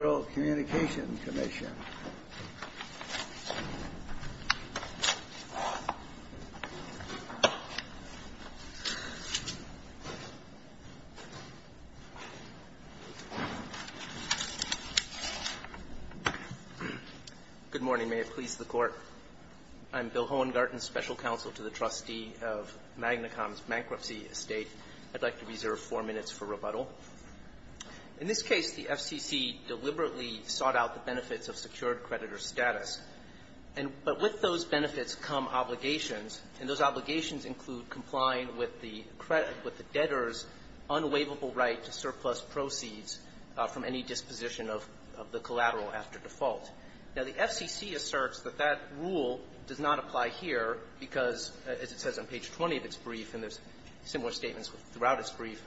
Good morning. May it please the Court. I'm Bill Hohengarten, Special Counsel to the Trustee of Magna Com's Bankruptcy Estate. I'd like to reserve four minutes for rebuttal. In this case, the FCC deliberately sought out the benefits of secured creditor status. But with those benefits come obligations, and those obligations include complying with the debtor's unwaivable right to surplus proceeds from any disposition of the collateral after default. Now, the FCC asserts that that rule does not apply here because, as it says on page 20 of its brief, and there's similar statements throughout its brief,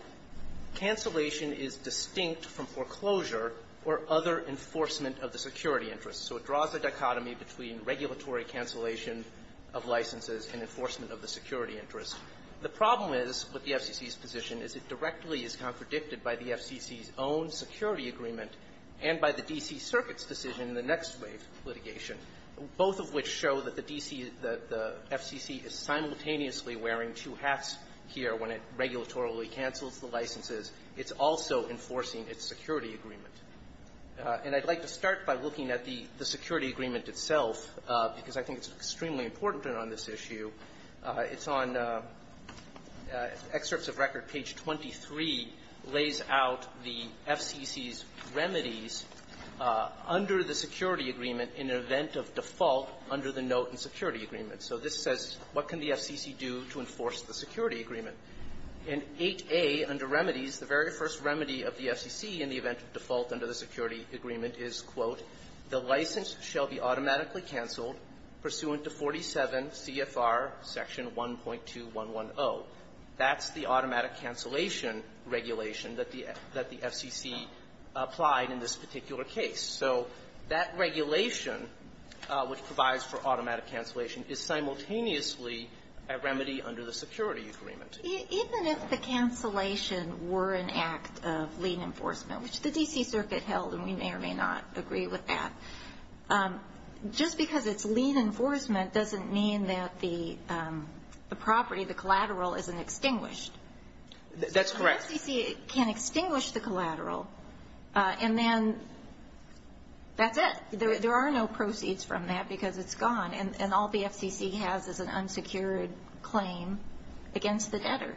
cancellation is distinct from foreclosure or other enforcement of the security interest. So it draws a dichotomy between regulatory cancellation of licenses and enforcement of the security interest. The problem is with the FCC's position is it directly is contradicted by the FCC's own security agreement and by the D.C. Circuit's decision in the next wave of litigation, both of which show that the D.C. The FCC is simultaneously wearing two hats here when it regulatorily cancels the licenses. It's also enforcing its security agreement. And I'd like to start by looking at the security agreement itself because I think it's extremely important on this issue. It's on excerpts of record. Page 23 lays out the FCC's remedies under the security agreement in an event of default under the note in security agreement. So this says, what can the FCC do to enforce the security agreement? In 8a, under remedies, the very first remedy of the FCC in the event of default under the security agreement is, quote, the license shall be automatically canceled pursuant to 47 CFR section 1.2110. That's the automatic cancellation regulation that the FCC applied in this particular case. So that regulation, which provides for automatic cancellation, is simultaneously a remedy under the security agreement. Even if the cancellation were an act of lien enforcement, which the D.C. Circuit held, and we may or may not agree with that, just because it's lien enforcement doesn't mean that the property, the collateral, isn't extinguished. That's correct. But the FCC can't extinguish the collateral, and then that's it. There are no proceeds from that because it's gone, and all the FCC has is an unsecured claim against the debtor.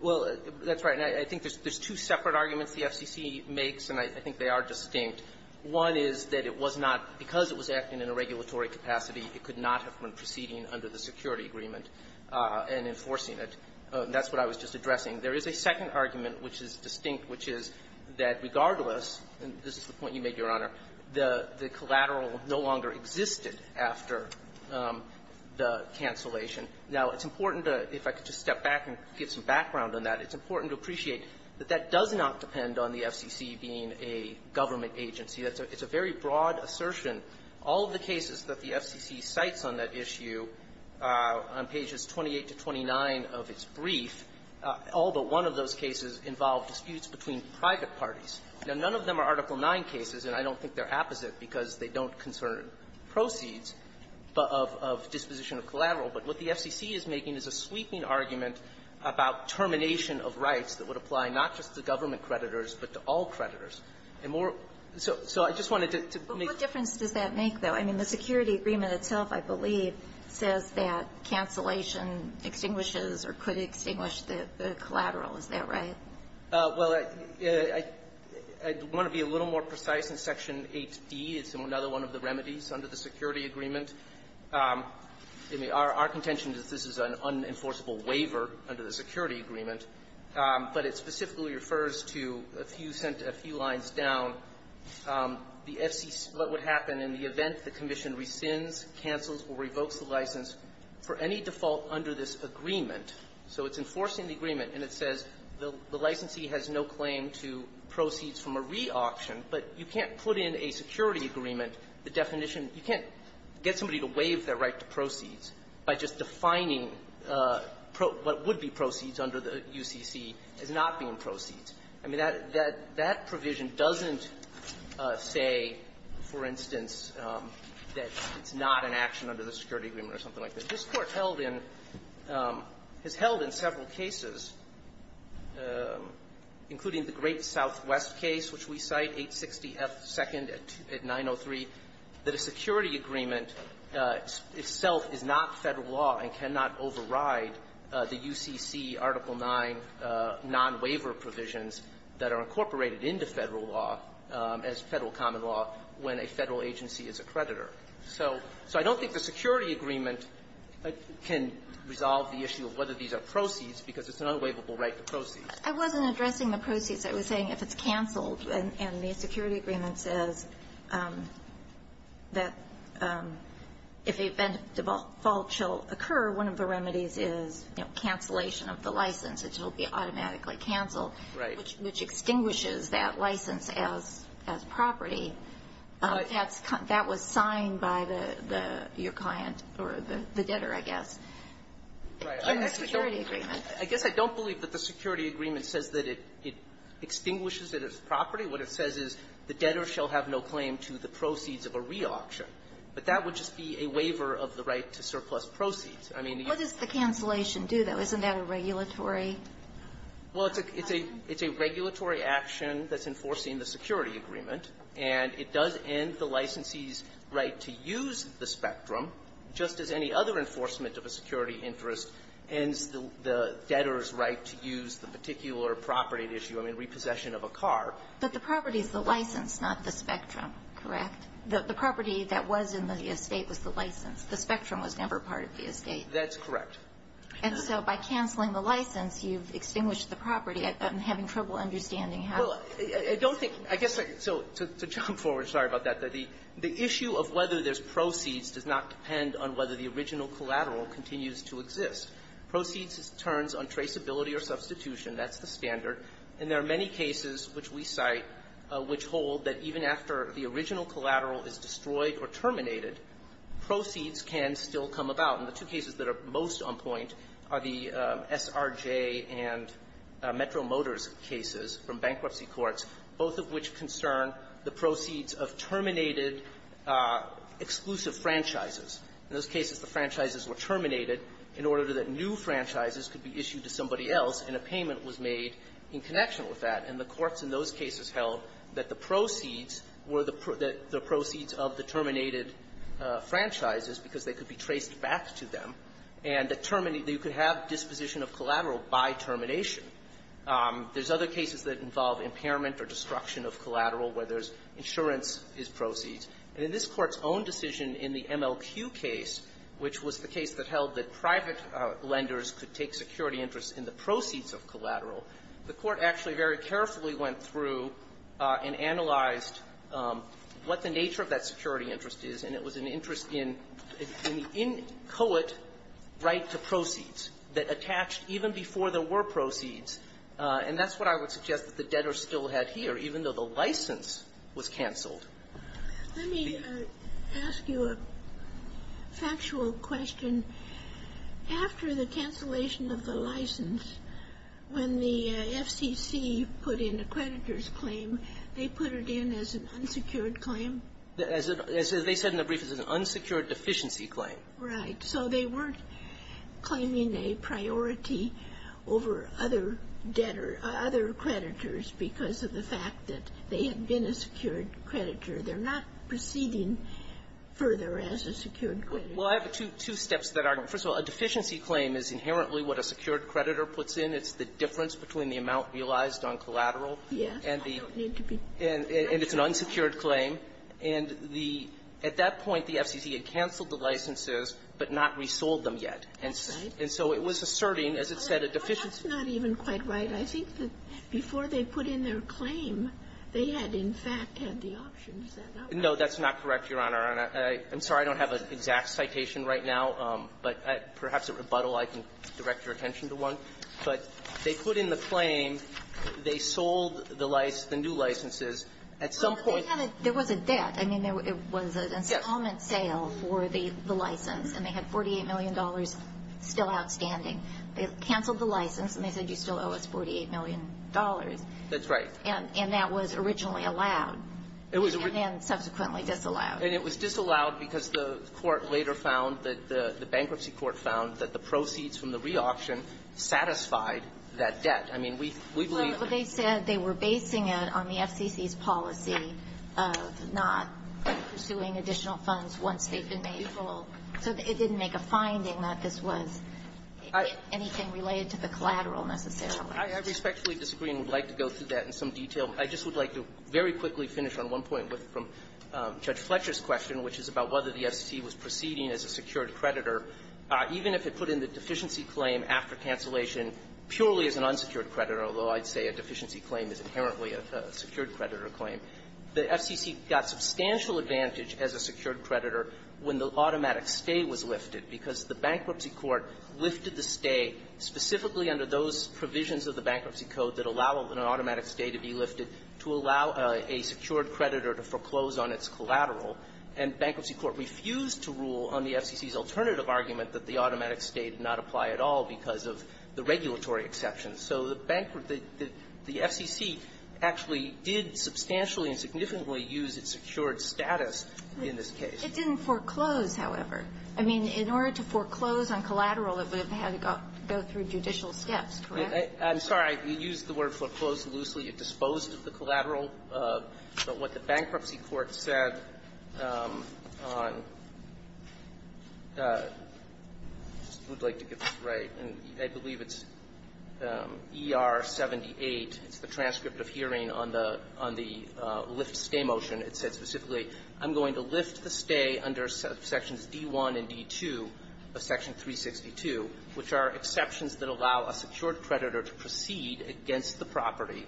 Well, that's right. And I think there's two separate arguments the FCC makes, and I think they are distinct. One is that it was not, because it was acting in a regulatory capacity, it could not have been proceeding under the security agreement and enforcing it. That's what I was just addressing. There is a second argument, which is distinct, which is that regardless and this is the point you made, Your Honor, the collateral no longer existed after the cancellation. Now, it's important to, if I could just step back and give some background on that, it's important to appreciate that that does not depend on the FCC being a government agency. It's a very broad assertion. All of the cases that the FCC cites on that issue, on pages 28 to 29 of its brief, all but one of those cases involved disputes between private parties. Now, none of them are Article 9 cases, and I don't think they're apposite because they don't concern proceeds of disposition of collateral. But what the FCC is making is a sweeping argument about termination of rights that would apply not just to government creditors, but to all creditors. And more so so I just wanted to make But what difference does that make, though? I mean, the security agreement itself, I believe, says that cancellation extinguishes or could extinguish the collateral. Is that right? Well, I want to be a little more precise in Section 8d. It's another one of the remedies under the security agreement. Our contention is this is an unenforceable waiver under the security agreement, but it specifically refers to a few lines down. The FCC what would happen in the event the commission rescinds, cancels, or revokes the license for any default under this agreement. So it's enforcing the agreement, and it says the licensee has no claim to proceeds from a reauction, but you can't put in a security agreement the definition. You can't get somebody to waive their right to proceeds by just defining what would be proceeds under the UCC as not being proceeds. I mean, that provision doesn't say, for instance, that it's not an action under the security agreement or something like that. This Court held in – has held in several cases, including the Great Southwest case, which we cite, 860F2nd at 903, that a security agreement itself is not Federal law and cannot override the UCC Article 9 nonwaiver provisions that are incorporated into Federal law as Federal common law when a Federal agency is a creditor. So I don't think the security agreement can resolve the issue of whether these are proceeds, because it's an unwaivable right to proceeds. I wasn't addressing the proceeds. I was saying if it's canceled and the security agreement says that if a default shall occur, one of the remedies is, you know, cancellation of the license. It will be automatically canceled, which extinguishes that license as property. That's – that was signed by the – your client, or the debtor, I guess. In the security agreement. I guess I don't believe that the security agreement says that it extinguishes it as property. What it says is the debtor shall have no claim to the proceeds of a reauction. But that would just be a waiver of the right to surplus proceeds. I mean, the – What does the cancellation do, though? Isn't that a regulatory? Well, it's a – it's a – it's a regulatory action that's enforcing the security agreement, and it does end the licensee's right to use the Spectrum, just as any other enforcement of a security interest ends the debtor's right to use the particular property at issue, I mean, repossession of a car. But the property is the license, not the Spectrum, correct? The property that was in the estate was the license. The Spectrum was never part of the estate. That's correct. And so by canceling the license, you've extinguished the property. I'm having trouble understanding how. Well, I don't think – I guess I – so to jump forward, sorry about that. The issue of whether there's proceeds does not depend on whether the original collateral continues to exist. Proceeds turns on traceability or substitution. That's the standard. And there are many cases which we cite which hold that even after the original collateral is destroyed or terminated, proceeds can still come about. And the two cases that are most on point are the SRJ and Metro Motors cases from bankruptcy courts, both of which concern the proceeds of terminated exclusive franchises. In those cases, the franchises were terminated in order that new franchises could be issued to somebody else, and a payment was made in connection with that. And the courts in those cases held that the proceeds were the – that the proceeds of the terminated franchises, because they could be traced back to them, and that you could have disposition of collateral by termination. There's other cases that involve impairment or destruction of collateral where there's insurance is proceeds. And in this Court's own decision in the MLQ case, which was the case that held that private lenders could take security interests in the proceeds of collateral, the Court actually very carefully went through and analyzed what the nature of that security interest is, and it was an interest in the inchoate right to proceeds that attached even before there were proceeds. And that's what I would suggest that the debtors still had here, even though the license was canceled. Let me ask you a factual question. After the cancellation of the license, when the FCC put in a creditor's claim, they put it in as an unsecured claim? As they said in the brief, it was an unsecured deficiency claim. Right. So they weren't claiming a priority over other debtor – other creditors because of the fact that they had been a secured creditor. They're not proceeding further as a secured creditor. Well, I have two steps to that argument. First of all, a deficiency claim is inherently what a secured creditor puts in. It's the difference between the amount realized on collateral. Yeah. And the – I don't need to be – And it's an unsecured claim. And the – at that point, the FCC had canceled the licenses but not resold them yet. Right. And so it was asserting, as it said, a deficiency. That's not even quite right. I think that before they put in their claim, they had, in fact, had the options set up. No, that's not correct, Your Honor. And I'm sorry I don't have an exact citation right now, but perhaps at rebuttal I can direct your attention to one. But they put in the claim, they sold the license – the new licenses at some point – Well, they had a – there was a debt. I mean, there was an installment sale for the license. And they had $48 million still outstanding. They canceled the license, and they said, you still owe us $48 million. That's right. And that was originally allowed. It was – And then subsequently disallowed. And it was disallowed because the court later found that the – the bankruptcy court found that the proceeds from the reauction satisfied that debt. I mean, we believe – Well, they said they were basing it on the FCC's policy of not pursuing additional funds once they've been made full. So it didn't make a finding that this was – All right. – anything related to the collateral, necessarily. I respectfully disagree and would like to go through that in some detail. I just would like to very quickly finish on one point with – from Judge Fletcher's question, which is about whether the FCC was proceeding as a secured creditor, even if it put in the deficiency claim after cancellation purely as an unsecured creditor, although I'd say a deficiency claim is inherently a secured creditor claim. The FCC got substantial advantage as a secured creditor when the automatic stay was lifted, because the bankruptcy court lifted the stay specifically under those provisions of the Bankruptcy Code that allow an automatic stay to be lifted to allow a secured creditor to foreclose on its collateral. And bankruptcy court refused to rule on the FCC's alternative argument that the automatic stay did not apply at all because of the regulatory exceptions. So the bank – the I mean, in order to foreclose on collateral, it would have had to go through judicial steps, correct? I'm sorry. I used the word foreclosed loosely. It disposed of the collateral. But what the bankruptcy court said on – I just would like to get this right. And I believe it's ER78. It's the transcript of hearing on the – on the lift stay motion. It said specifically, I'm going to lift the stay under sections D-1 and D-2 of Section 362, which are exceptions that allow a secured creditor to proceed against the property,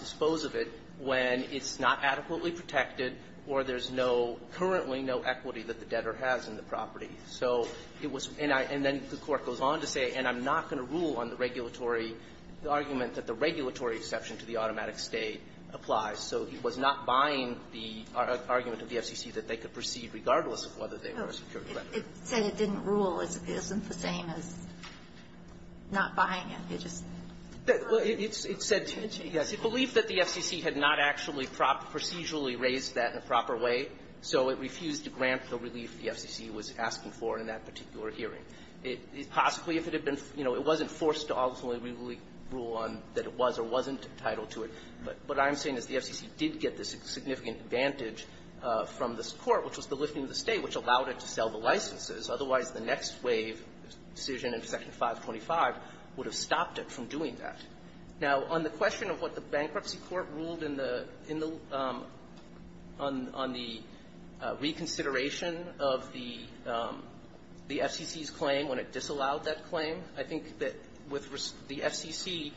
dispose of it when it's not adequately protected or there's no – currently no equity that the debtor has in the property. So it was – and I – and then the Court goes on to say, and I'm not going to rule on the regulatory – the argument that the regulatory exception to the automatic stay applies. So it was not buying the argument of the FCC that they could proceed regardless of whether they were a secured creditor. It said it didn't rule. It isn't the same as not buying it. It just – Well, it said – yes. It believed that the FCC had not actually procedurally raised that in a proper way, so it refused to grant the relief the FCC was asking for in that particular hearing. It – possibly if it had been – you know, it wasn't forced to ultimately rule on that it was or wasn't entitled to it, but what I'm saying is the FCC did get this significant advantage from this Court, which was the lifting of the stay, which allowed it to sell the licenses. Otherwise, the next wave decision in Section 525 would have stopped it from doing that. Now, on the question of what the bankruptcy court ruled in the – in the – on the reconsideration of the FCC's claim to the claim when it disallowed that claim, I think that with – the FCC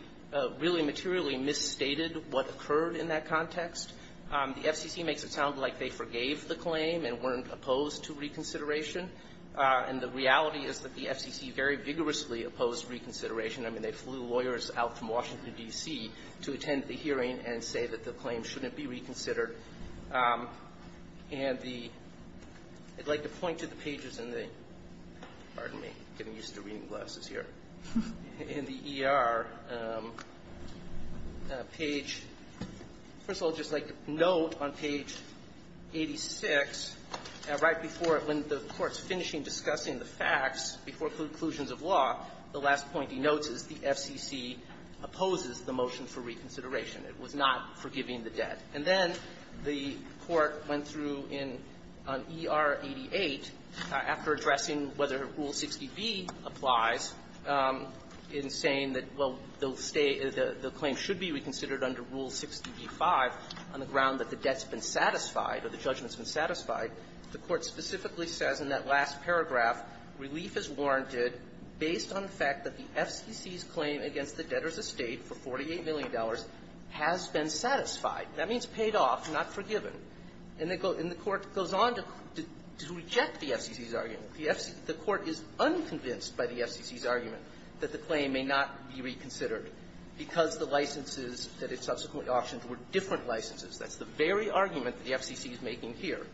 really materially misstated what occurred in that context. The FCC makes it sound like they forgave the claim and weren't opposed to reconsideration. And the reality is that the FCC very vigorously opposed reconsideration. I mean, they flew lawyers out from Washington, D.C. to attend the hearing and say that the claim shouldn't be reconsidered. And the – I'd like to point to the pages in the – pardon me, getting used to reading glasses here – in the E.R. page. First of all, I'd just like to note on page 86, right before – when the Court's finishing discussing the facts before conclusions of law, the last point he notes is the FCC opposes the motion for reconsideration. It was not forgiving the debt. And then the Court went through in E.R. 88, after addressing whether Rule 60b applies, in saying that, well, they'll stay – the claim should be reconsidered under Rule 60b-5 on the ground that the debt's been satisfied or the judgment's been satisfied. The Court specifically says in that last paragraph, relief is warranted based on the fact that the FCC's claim against the debtor's licenses of $1,000,000 has been satisfied. That means paid off, not forgiven. And the Court goes on to reject the FCC's argument. The FC – the Court is unconvinced by the FCC's argument that the claim may not be reconsidered because the licenses that it subsequently auctioned were different licenses. That's the very argument the FCC is making here.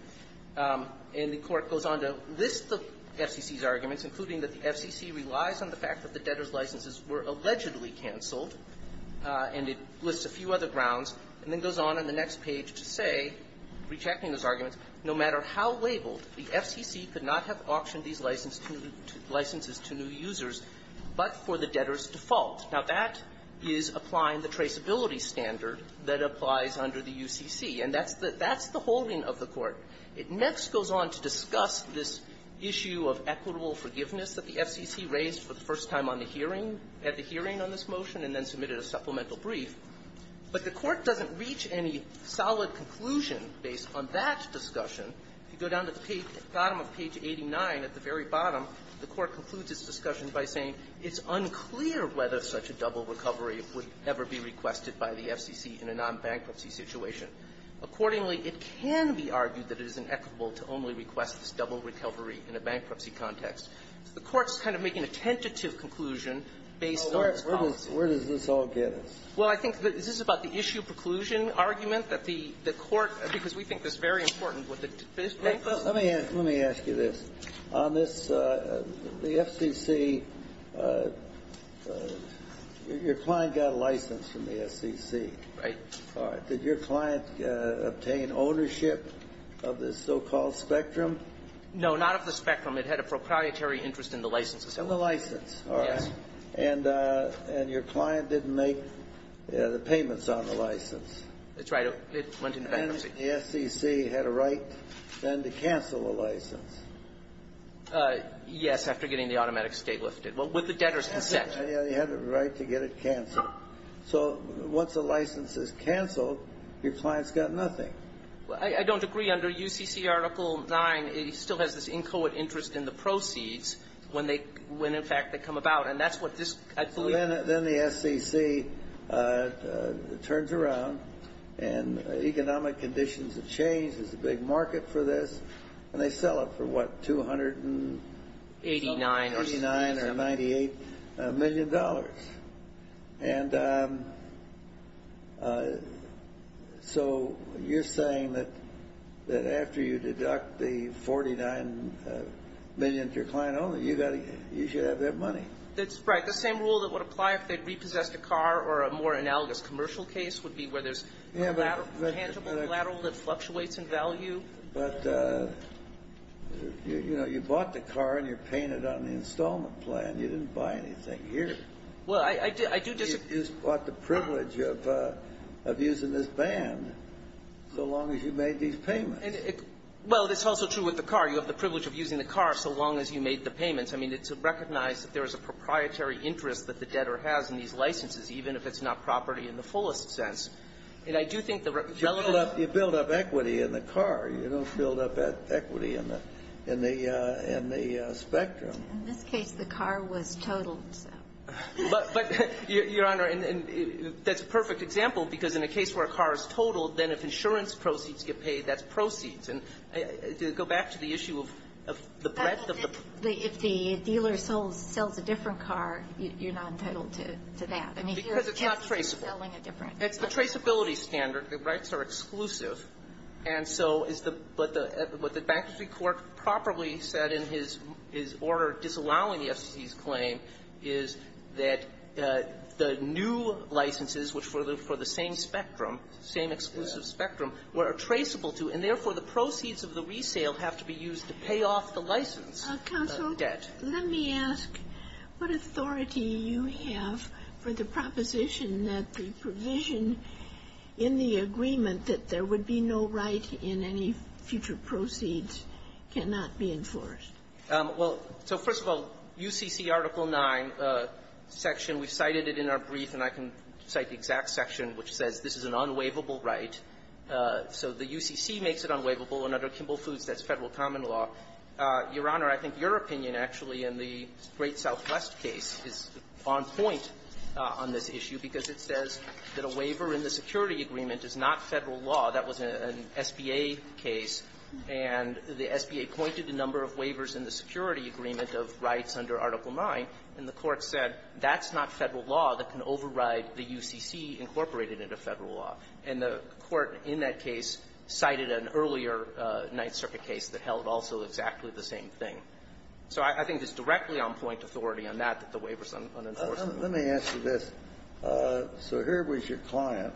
And the Court goes on to list the FCC's arguments, including that the FCC relies on the fact that the debtor's licenses were cancelled, and it lists a few other grounds, and then goes on in the next page to say, rejecting those arguments, no matter how labeled, the FCC could not have auctioned these licenses to new users but for the debtor's default. Now, that is applying the traceability standard that applies under the UCC. And that's the – that's the holding of the Court. It next goes on to discuss this issue of equitable forgiveness that the FCC raised for the first time on the hearing – at the hearing on this motion and then submitted a supplemental brief. But the Court doesn't reach any solid conclusion based on that discussion. If you go down to the bottom of page 89, at the very bottom, the Court concludes its discussion by saying it's unclear whether such a double recovery would ever be requested by the FCC in a non-bankruptcy situation. Accordingly, it can be argued that it is inequitable to only request this double recovery in a bankruptcy context. The Court's kind of making a tentative conclusion based on its comments. Well, where does – where does this all get us? Well, I think that this is about the issue preclusion argument that the – the Court – because we think this is very important with the debate. Let me ask you this. On this, the FCC, your client got a license from the FCC. Right. All right. Did your client obtain ownership of this so-called spectrum? No, not of the spectrum. It had a proprietary interest in the license itself. In the license. All right. Yes. And – and your client didn't make the payments on the license. That's right. It went into bankruptcy. And the FCC had a right, then, to cancel the license. Yes, after getting the automatic state lifted. Well, with the debtor's consent. Yeah, they had a right to get it canceled. So once a license is canceled, your client's got nothing. I don't agree. Under UCC Article 9, it still has this inchoate interest in the proceeds when they – when, in fact, they come about. And that's what this – I believe – Well, then – then the FCC turns around, and economic conditions have changed. There's a big market for this. And they sell it for, what, $289 or $98 million. And so you're saying that – that after you deduct the $49 million to your client owner, you got to – you should have that money. That's right. The same rule that would apply if they'd repossessed a car or a more analogous commercial case would be where there's a tangible collateral that fluctuates in value. But, you know, you bought the car, and you're paying it on the installment plan. You didn't buy anything here. Well, I do – I do disagree. You just bought the privilege of using this band so long as you made these payments. Well, it's also true with the car. You have the privilege of using the car so long as you made the payments. I mean, it's recognized that there is a proprietary interest that the debtor has in these licenses, even if it's not property in the fullest sense. And I do think the – You build up – you build up equity in the car. You don't build up equity in the – in the – in the spectrum. In this case, the car was totaled, so. But, Your Honor, and that's a perfect example, because in a case where a car is totaled, then if insurance proceeds get paid, that's proceeds. And to go back to the issue of the breadth of the – But if the dealer sells a different car, you're not entitled to that. I mean, here it's selling a different car. Because it's not traceable. It's the traceability standard. The rights are exclusive. And so is the – what the – what the bankruptcy court properly said in his – his order disallowing the FCC's claim is that the new licenses, which were for the – for the same spectrum, same exclusive spectrum, were traceable to. And therefore, the proceeds of the resale have to be used to pay off the license debt. Counsel, let me ask what authority you have for the proposition that the provision in the agreement that there would be no right in any future proceeds cannot be enforced. Well, so first of all, UCC Article 9 section, we cited it in our brief, and I can cite the exact section which says this is an unwaivable right. So the UCC makes it unwaivable, and under Kimball Foods, that's Federal common law. Your Honor, I think your opinion, actually, in the Great Southwest case is on point on this issue, because it says that the waiver in the security agreement is not Federal law. That was an SBA case. And the SBA pointed the number of waivers in the security agreement of rights under Article 9, and the Court said that's not Federal law that can override the UCC incorporated into Federal law. And the Court in that case cited an earlier Ninth Circuit case that held also exactly the same thing. So I think it's directly on point authority on that, that the waiver is unenforceable. Let me answer this. So here was your client.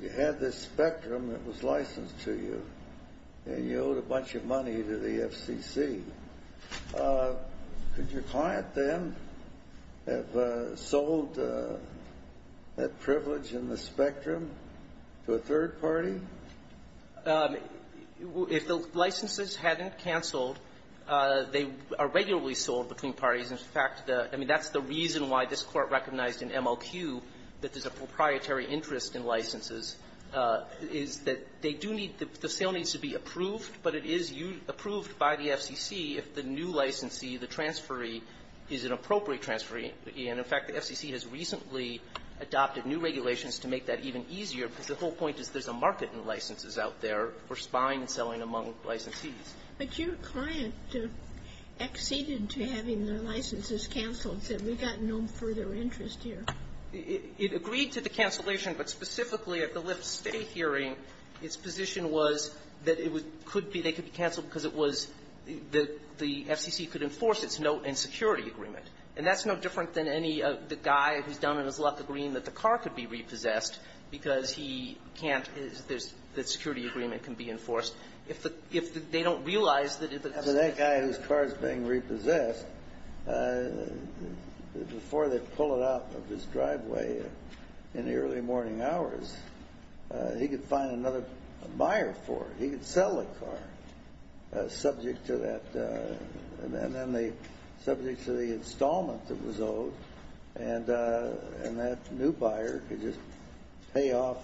You had this Spectrum that was licensed to you, and you owed a bunch of money to the FCC. Could your client, then, have sold that privilege in the Spectrum to a third party? If the licenses hadn't canceled, they are regularly sold between parties. In fact, the – I mean, that's the reason why this Court recognized in MLQ that there's a proprietary interest in licenses, is that they do need – the sale needs to be approved, but it is approved by the FCC if the new licensee, the transferee, is an appropriate transferee. And, in fact, the FCC has recently adopted new regulations to make that even easier, because the whole point is there's a market in licenses out there for spying and selling among licensees. But your client acceded to having their licenses canceled, so we've got no further interest here. It agreed to the cancellation, but specifically at the Lyft State hearing, its position was that it could be – they could be canceled because it was – the FCC could enforce its note and security agreement. And that's no different than any – the guy who's done it is left agreeing that the car could be repossessed because he can't – the security agreement can be enforced. If the – if they don't realize that if it's going to be repossessed That guy whose car is being repossessed, before they pull it out of his driveway in the early morning hours, he could find another buyer for it. He could sell the car, subject to that – and then the – subject to the installment that was owed, and that new buyer could just pay off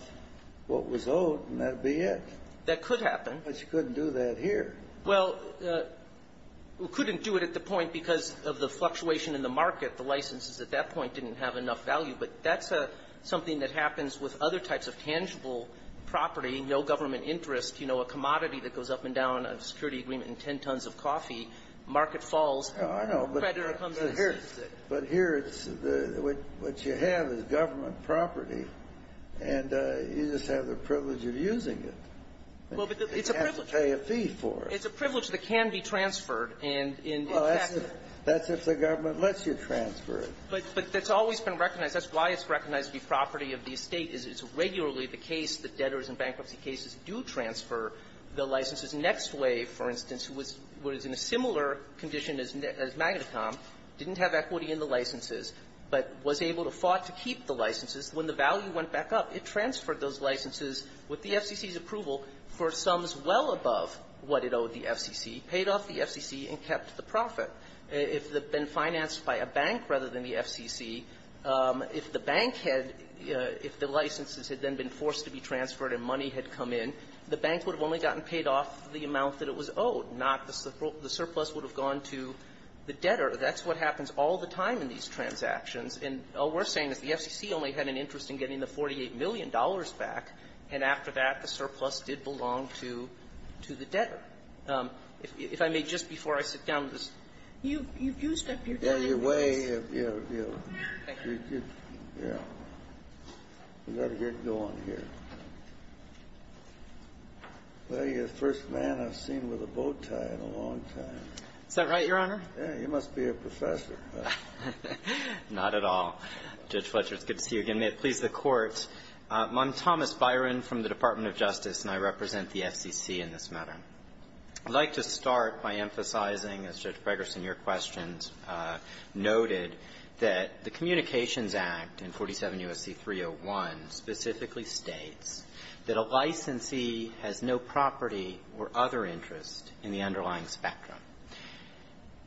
what was owed, and that would be it. That could happen. But you couldn't do that here. Well, we couldn't do it at the point because of the fluctuation in the market. The licenses at that point didn't have enough value. But that's something that happens with other types of tangible property, no government interest. You know, a commodity that goes up and down a security agreement in 10 tons of coffee, market falls. I know, but here's the thing. But here, it's the – what you have is government property, and you just have the privilege of using it. Well, but it's a privilege. You can't pay a fee for it. It's a privilege that can be transferred, and in fact the – Well, that's if the government lets you transfer it. But that's always been recognized. That's why it's recognized to be property of the estate, is it's regularly the case that debtors in bankruptcy cases do transfer the licenses. Next Wave, for instance, was in a similar condition as Magna Com, didn't have equity in the licenses, but was able to fought to keep the licenses. When the value went back up, it transferred those licenses with the FCC's approval for sums well above what it owed the FCC, paid off the FCC, and kept the profit. If it had been financed by a bank rather than the FCC, if the bank had – if the licenses had then been forced to be transferred and money had come in, the bank would have only gotten paid off the amount that it was owed, not the surplus would have gone to the debtor. That's what happens all the time in these transactions. And all we're saying is the FCC only had an interest in getting the $48 million back, and after that, the surplus did belong to the debtor. If I may, just before I sit down with this – You've used up your time, please. Yeah, your way of, you know, you've got to get going here. Well, you're the first man I've seen with a bowtie in a long time. Is that right, Your Honor? Yeah. You must be a professor. Not at all. Judge Fletcher, it's good to see you again. May it please the Court, I'm Thomas Byron from the Department of Justice, and I represent the FCC in this matter. I'd like to start by emphasizing, as Judge Fregerson, your questions noted, that the Communications Act in 47 U.S.C. 301 specifically states that a licensee has no property or other interest in the underlying spectrum.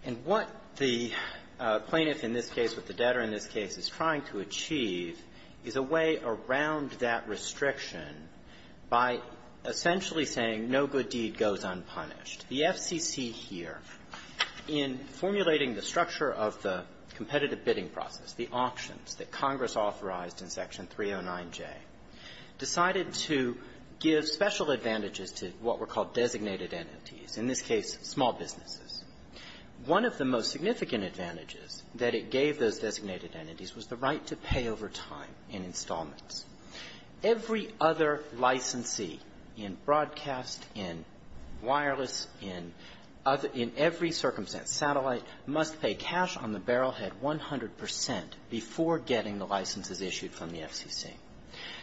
And what the plaintiff in this case with the debtor in this case is trying to achieve is a way around that restriction by essentially saying no good deed goes unpunished. The FCC here, in formulating the structure of the competitive bidding process, the auctions that Congress authorized in Section 309J, decided to give special advantages to what were called designated entities, in this case, small businesses. One of the most significant advantages that it gave those designated entities was the right to pay over time in installments. Every other licensee in broadcast, in wireless, in every circumstance, satellite, must pay cash on the barrel head 100 percent before getting the licenses issued from the FCC.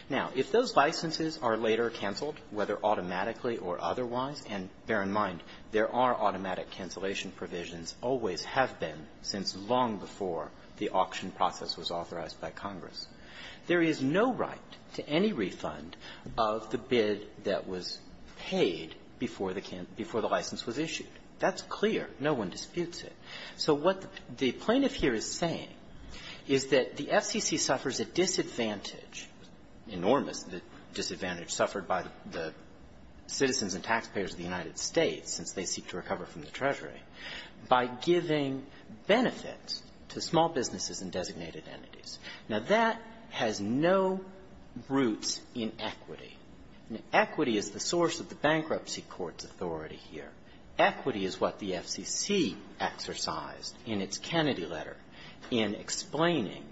Now, if those licenses are later canceled, whether automatically or otherwise and, bear in mind, there are automatic cancellation provisions, always have been since long before the auction process was authorized by Congress, there is no right to any refund of the bid that was paid before the license was issued. That's clear. No one disputes it. So what the plaintiff here is saying is that the FCC suffers a disadvantage, enormous disadvantage, suffered by the citizens and taxpayers of the United States since they seek to recover from the Treasury, by giving benefits to small businesses and designated entities. Now, that has no roots in equity. Equity is the source of the bankruptcy court's authority here. Equity is what the FCC exercised in its Kennedy letter in explaining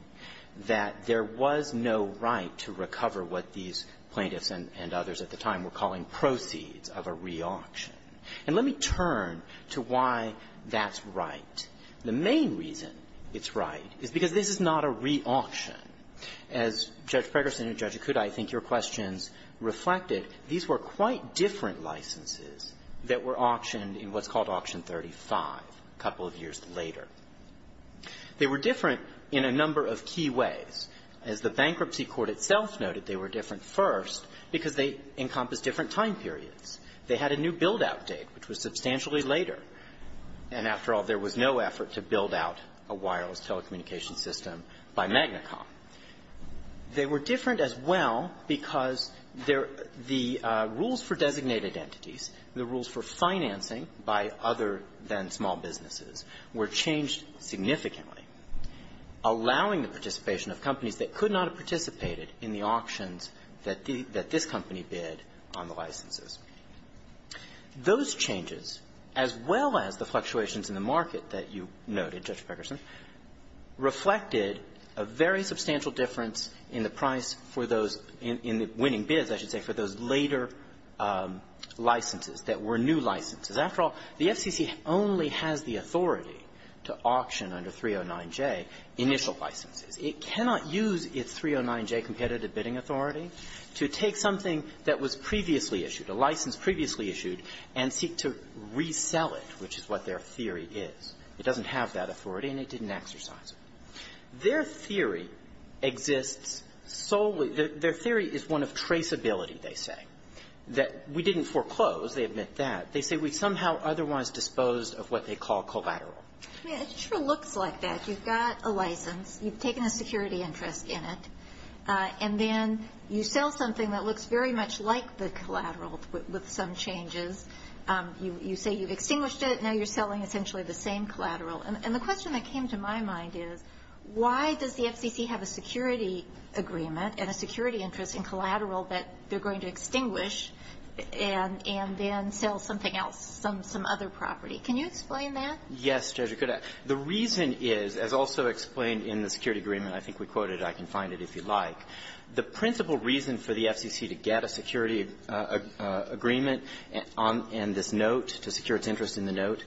that there was no right to recover what these plaintiffs and others at the time were calling proceeds of a reauction. And let me turn to why that's right. The main reason it's right is because this is not a reauction. As Judge Pregerson and Judge Akuta, I think, your questions reflected, these were quite different licenses that were auctioned in what's called Auction 35 a couple of years later. They were different in a number of key ways. As the bankruptcy court itself noted, they were different first because they encompassed different time periods. They had a new build-out date, which was substantially later. And after all, there was no effort to build out a wireless telecommunications system by Magna Com. They were different as well because there the rules for designated entities, the rules for financing by other than small businesses, were changed significantly, allowing the participation of companies that could not have participated in the auctions that this company bid on the licenses. Those changes, as well as the fluctuations in the market that you noted, Judge Pregerson, made a substantial difference in the price for those – in the winning bids, I should say, for those later licenses that were new licenses. After all, the FCC only has the authority to auction under 309J initial licenses. It cannot use its 309J competitive bidding authority to take something that was previously issued, a license previously issued, and seek to resell it, which is what their theory is. It doesn't have that authority, and it didn't exercise it. Their theory exists solely – their theory is one of traceability, they say. That we didn't foreclose. They admit that. They say we somehow otherwise disposed of what they call collateral. It sure looks like that. You've got a license. You've taken a security interest in it. And then you sell something that looks very much like the collateral with some changes. You say you've extinguished it. And now you're selling essentially the same collateral. And the question that came to my mind is, why does the FCC have a security agreement and a security interest in collateral that they're going to extinguish and then sell something else, some other property? Can you explain that? Yes, Judge. The reason is, as also explained in the security agreement, I think we quoted it. I can find it if you'd like. The principal reason for the FCC to get a security agreement and this note, to secure its interest in the note,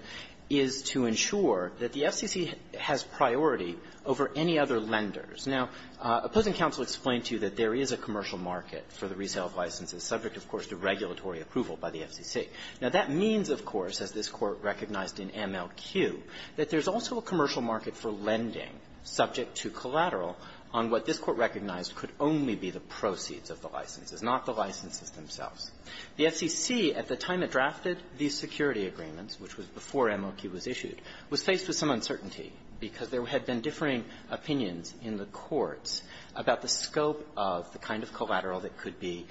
is to ensure that the FCC has priority over any other lenders. Now, opposing counsel explained to you that there is a commercial market for the resale of licenses, subject, of course, to regulatory approval by the FCC. Now, that means, of course, as this Court recognized in MLQ, that there's also a commercial market for lending subject to collateral on what this Court recognized could only be the proceeds of the licenses, not the licenses themselves. The FCC, at the time it drafted these security agreements, which was before MLQ was issued, was faced with some uncertainty because there had been differing opinions in the courts about the scope of the kind of collateral that could be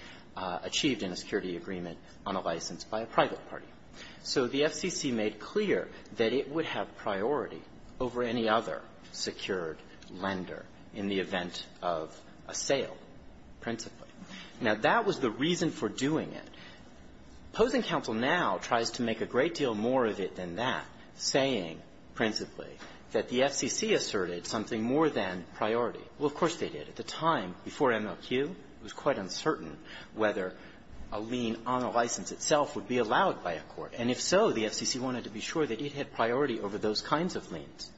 achieved in a security agreement on a license by a private party. So the FCC made clear that it would have priority over any other secured lender in the event of a sale, principally. Now, that was the reason for doing it. Opposing counsel now tries to make a great deal more of it than that, saying, principally, that the FCC asserted something more than priority. Well, of course they did. At the time, before MLQ, it was quite uncertain whether a lien on a license itself would be allowed by a court. And if so, the FCC wanted to be sure that it had priority over those kinds of liens.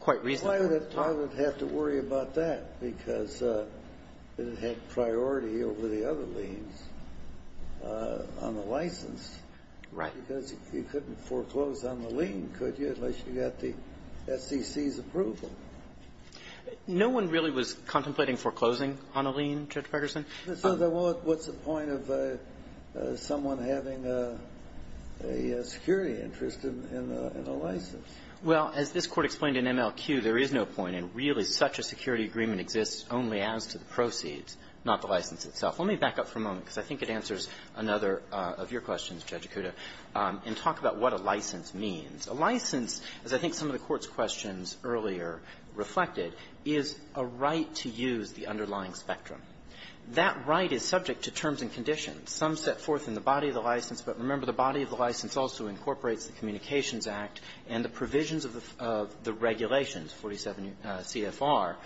Quite reasonably. Well, I would have to worry about that, because it had priority over the other liens on the license. Right. Because you couldn't foreclose on the lien, could you, unless you got the FCC's approval. No one really was contemplating foreclosing on a lien, Judge Ferguson. So what's the point of someone having a security interest in a license? Well, as this Court explained in MLQ, there is no point. And really, such a security agreement exists only as to the proceeds, not the license itself. Let me back up for a moment, because I think it answers another of your questions, Judge Acuda, and talk about what a license means. A license, as I think some of the Court's questions earlier reflected, is a right to use the underlying spectrum. That right is subject to terms and conditions. Some set forth in the body of the license, but remember, the body of the license also incorporates the Communications Act and the provisions of the regulations, 47 CFR,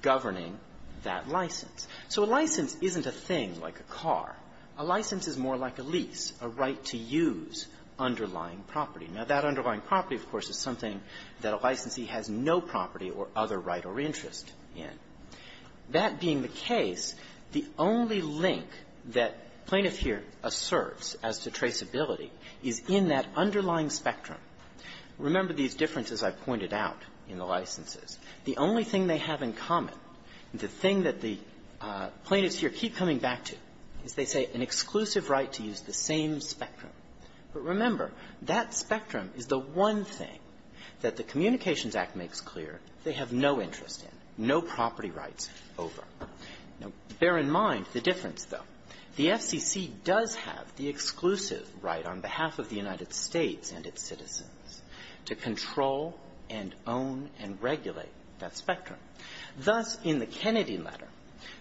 governing that license. So a license isn't a thing like a car. A license is more like a lease, a right to use underlying property. Now, that underlying property, of course, is something that a licensee has no property or other right or interest in. That being the case, the only link that Plaintiff here asserts as to traceability is in that underlying spectrum. Remember these differences I pointed out in the licenses. The only thing they have in common, the thing that the Plaintiffs here keep coming back to, is they say an exclusive right to use the same spectrum. But remember, that spectrum is the one thing that the Communications Act makes clear they have no interest in, no property rights over. Now, bear in mind the difference, though. The FCC does have the exclusive right on behalf of the United States and its citizens to control and own and regulate that spectrum. Thus, in the Kennedy letter,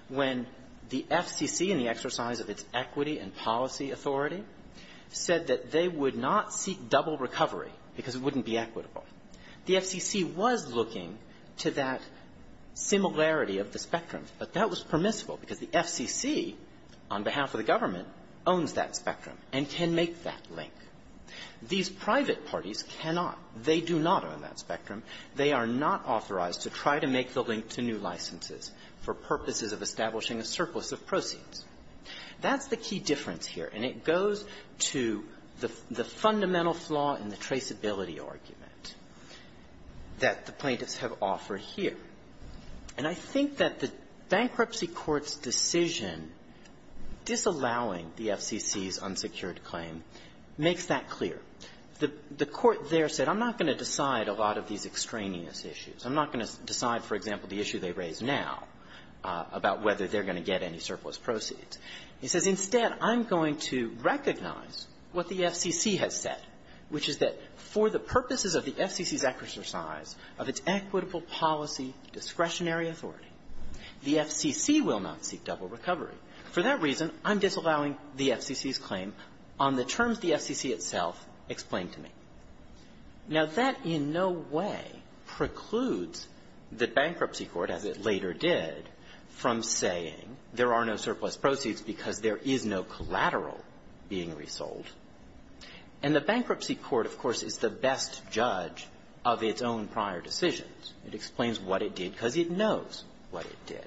when the FCC in the exercise of its equity and policy authority said that they would not seek double recovery because it wouldn't be equitable, the FCC was looking to that similarity of the spectrum. But that was permissible because the FCC, on behalf of the government, owns that spectrum and can make that link. These private parties cannot. They do not own that spectrum. They are not authorized to try to make the link to new licenses for purposes of establishing a surplus of proceeds. That's the key difference here. And it goes to the fundamental flaw in the traceability argument that the plaintiffs have offered here. And I think that the bankruptcy court's decision disallowing the FCC's unsecured claim makes that clear. The court there said, I'm not going to decide a lot of these extraneous issues. I'm not going to decide, for example, the issue they raise now about whether they're going to get any surplus proceeds. It says, instead, I'm going to recognize what the FCC has said, which is that for the purposes of the FCC's exercise of its equitable policy discretionary authority, the FCC will not seek double recovery. For that reason, I'm disallowing the FCC's claim on the terms the FCC itself explained to me. Now, that in no way precludes the bankruptcy court, as it later did, from saying there are no surplus proceeds because there is no collateral being resold. And the bankruptcy court, of course, is the best judge of its own prior decisions. It explains what it did because it knows what it did.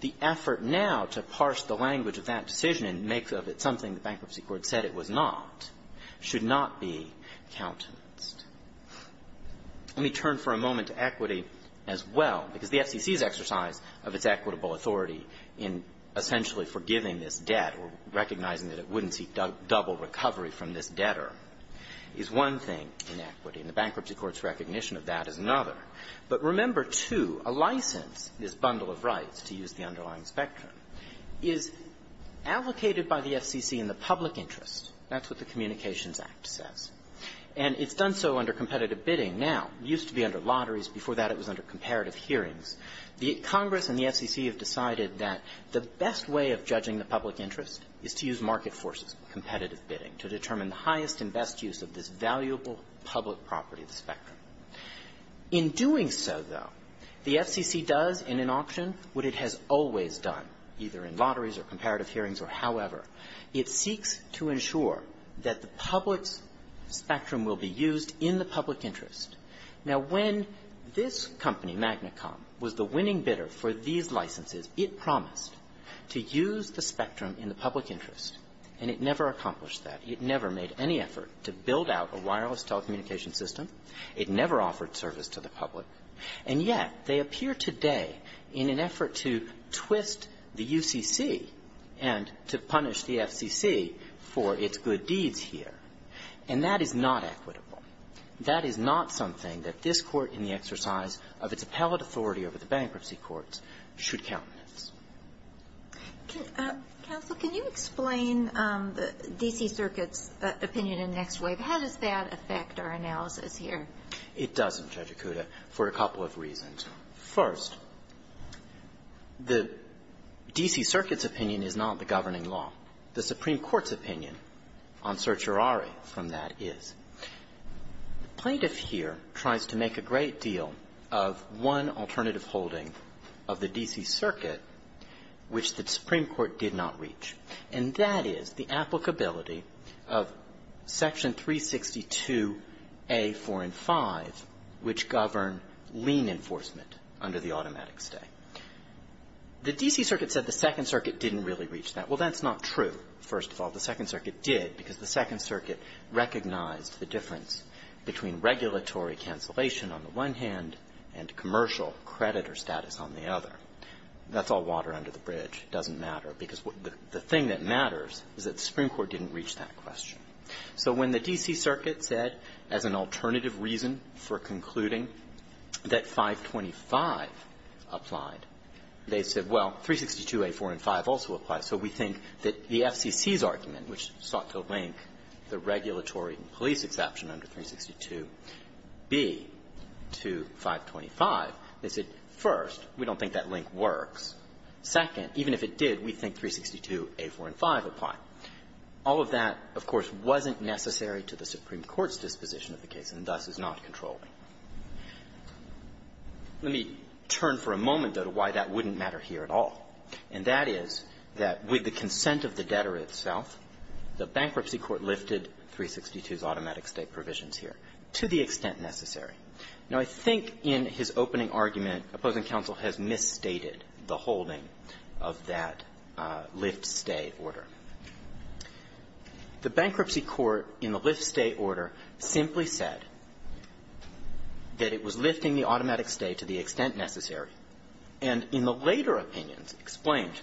The effort now to parse the language of that decision and make of it something the bankruptcy court said it was not should not be countenanced. Let me turn for a moment to equity as well, because the FCC's exercise of its equitable authority in essentially forgiving this debt or recognizing that it wouldn't seek double recovery from this debtor is one thing in equity. And the bankruptcy court's recognition of that is another. But remember, too, a license, this bundle of rights, to use the underlying spectrum, is allocated by the FCC in the public interest. That's what the Communications Act says. And it's done so under The Congress and the FCC have decided that the best way of judging the public interest is to use market forces, competitive bidding, to determine the highest and best use of this valuable public property, the spectrum. In doing so, though, the FCC does, in an auction, what it has always done, either in lotteries or comparative hearings or however. It seeks to ensure that the public's spectrum will be used in the public interest. Now, when this company, MagnaCom, was a company that was the winning bidder for these licenses, it promised to use the spectrum in the public interest. And it never accomplished that. It never made any effort to build out a wireless telecommunication system. It never offered service to the public. And yet, they appear today in an effort to twist the UCC and to punish the FCC for its good deeds here. And that is not equitable. That is not something that this Court, in the exercise of its appellate authority over the bankruptcy courts, should countenance. Ginsburg. Counsel, can you explain the D.C. Circuit's opinion in the next wave? How does that affect our analysis here? It doesn't, Judge Akuta, for a couple of reasons. First, the D.C. Circuit's opinion is not the governing law. The Supreme Court's opinion on certiorari from that is. The plaintiff here tries to make a great deal of one alternative holding of the D.C. Circuit, which the Supreme Court did not reach. And that is the applicability of Section 362a, 4, and 5, which govern lien enforcement under the automatic stay. The D.C. Circuit said the Second Circuit didn't really reach that. Well, that's not true, first of all. The Second Circuit did, because the Second Circuit recognized the difference between regulatory cancellation on the one hand and commercial creditor status on the other. That's all water under the bridge. It doesn't matter, because the thing that matters is that the Supreme Court didn't reach that question. So when the D.C. Circuit said, as an alternative reason for concluding that 525 applied, they said, well, 362a, 4, and 5 also apply. So we think that the FCC's argument, which sought to link the regulatory police exception under 362b to 525, they said, first, we don't think that link works. Second, even if it did, we think 362a, 4, and 5 apply. All of that, of course, wasn't necessary to the Supreme Court's disposition of the case, and thus is not controlling. Let me turn for a moment, though, to why that wouldn't matter here at all. And that is that with the consent of the debtor itself, the Bankruptcy Court lifted 362's automatic stay provisions here, to the extent necessary. Now, I think in his opening argument, opposing counsel has misstated the holding of that lift-stay order. The Bankruptcy Court, in the lift-stay order, simply said that it was lifting the automatic stay to the extent necessary, and in the later opinions, in the later opinions, explained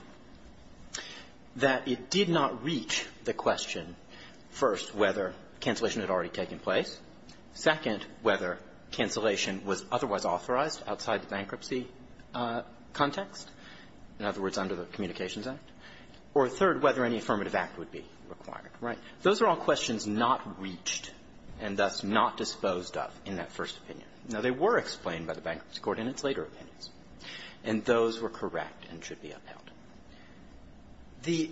that it did not reach the question, first, whether cancellation had already taken place, second, whether cancellation was otherwise authorized outside the bankruptcy context, in other words, under the Communications Act, or, third, whether any affirmative act would be required. Right? Those are all questions not reached and thus not disposed of in that first opinion. Now, they were explained by the Bankruptcy Court in its later opinions, and those were correct and should be upheld. The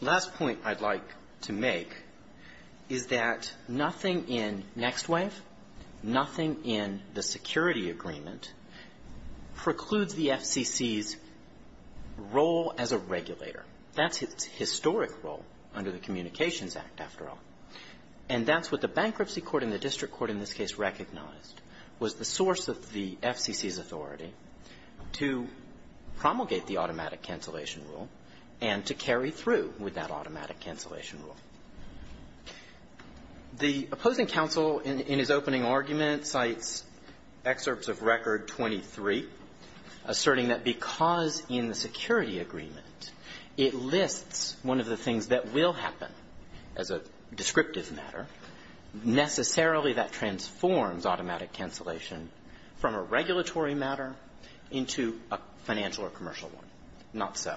last point I'd like to make is that nothing in NextWave, nothing in the Security Agreement precludes the FCC's role as a regulator. That's its historic role under the Communications Act, after all. And that's what the Bankruptcy Court and the district court in this case recognized was the source of the FCC's authority to promulgate the automatic cancellation rule and to carry through with that automatic cancellation rule. The opposing counsel in his opening argument cites excerpts of Record 23, asserting that because in the Security Agreement it lists one of the things that will happen as a descriptive matter, necessarily that transforms automatic cancellation from a regulatory matter into a financial or commercial one. Not so.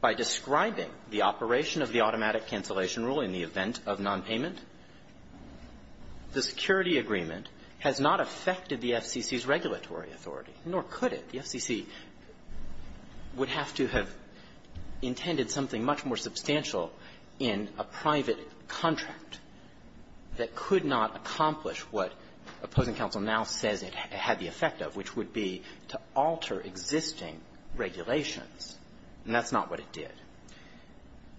By describing the operation of the automatic cancellation rule in the event of nonpayment, the Security Agreement has not affected the FCC's regulatory authority, nor could it. The FCC would have to have intended something much more substantial in a private contract that could not accomplish what opposing counsel now says it had the effect of, which would be to alter existing regulations. And that's not what it did.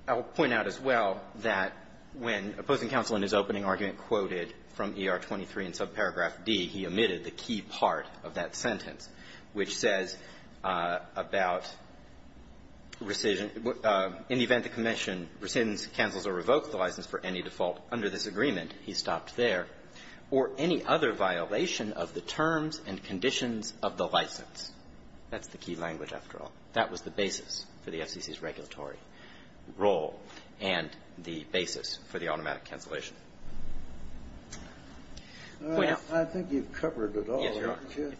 I will point out as well that when opposing counsel in his opening argument quoted from ER23 in subparagraph D, he omitted the key part of that sentence, which says about rescission, in the event the commission rescinds, cancels, or revokes the license for any default under this agreement, he stopped there, or any other violation of the terms and conditions of the license. That's the key language, after all. That was the basis for the FCC's regulatory role and the basis for the automatic cancellation. I think you've covered it all. Yes, Your Honor.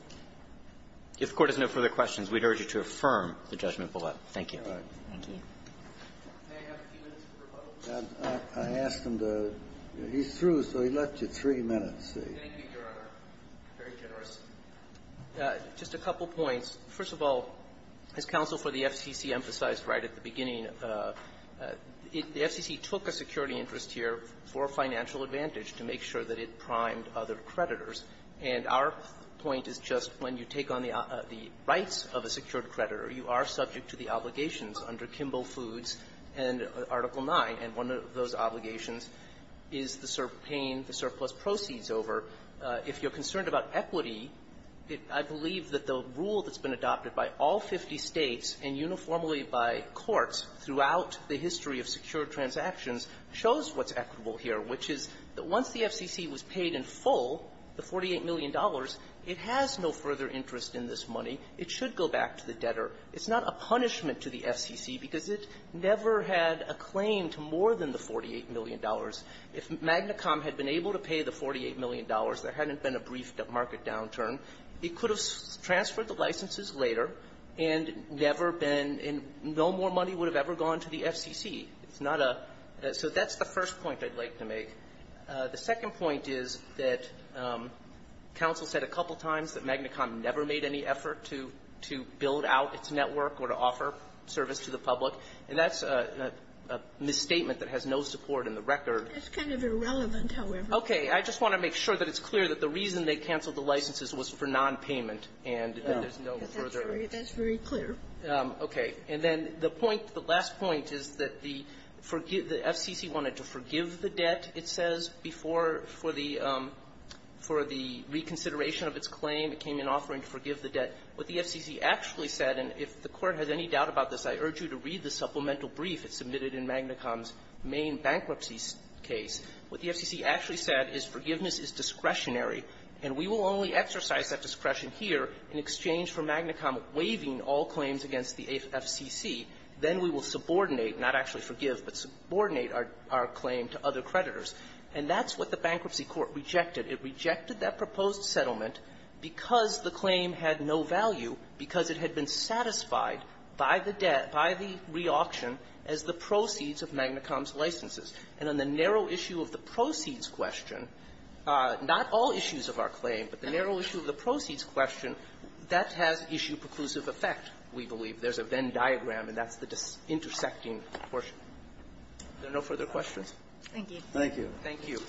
If the Court has no further questions, we'd urge you to affirm the judgment below. Thank you. All right. Thank you. May I have a few minutes for rebuttal, please? I asked him to — he's through, so he left you three minutes. Thank you, Your Honor. Very generous. Just a couple points. First of all, as counsel for the FCC emphasized right at the beginning, the FCC took a security interest here for financial advantage to make sure that it primed other creditors. And our point is just when you take on the rights of a secured creditor, you are subject to the obligations under Kimball Foods and Article 9. And one of those obligations is the paying the surplus proceeds over. If you're concerned about equity, I believe that the rule that's been adopted by all 50 States and uniformly by courts throughout the history of secured transactions shows what's equitable here, which is that once the FCC was paid in full the $48 million, it has no further interest in this money. It should go back to the debtor. It's not a punishment to the FCC because it never had a claim to more than the $48 million. If Magna Com had been able to pay the $48 million, there hadn't been a brief market downturn. It could have transferred the licenses later and never been — and no more money would have ever gone to the FCC. It's not a — so that's the first point I'd like to make. The second point is that counsel said a couple times that Magna Com never made any effort to — to build out its network or to offer service to the public, and that's a — a misstatement that has no support in the record. That's kind of irrelevant, however. Okay. I just want to make sure that it's clear that the reason they canceled the licenses was for nonpayment and there's no further — That's very — that's very clear. Okay. And then the point — the last point is that the — the FCC wanted to forgive the debt, it says, before — for the — for the reconsideration of its claim. It came in offering to forgive the debt. What the FCC actually said, and if the Court has any doubt about this, I urge you to read the supplemental brief that's submitted in Magna Com's main bankruptcy case. What the FCC actually said is forgiveness is discretionary, and we will only exercise that discretion here in exchange for Magna Com waiving all claims against the FCC. Then we will subordinate — not actually forgive, but subordinate our — our claim to other creditors. And that's what the bankruptcy court rejected. It rejected that proposed settlement because the claim had no value, because it had been satisfied by the debt — by the reauction as the proceeds of Magna Com's licenses. And on the narrow issue of the proceeds question, not all issues of our claim, but the narrow issue of the proceeds question, that has issue-preclusive effect, we believe. There's a Venn diagram, and that's the intersecting portion. Are there no further questions? Thank you. Thank you.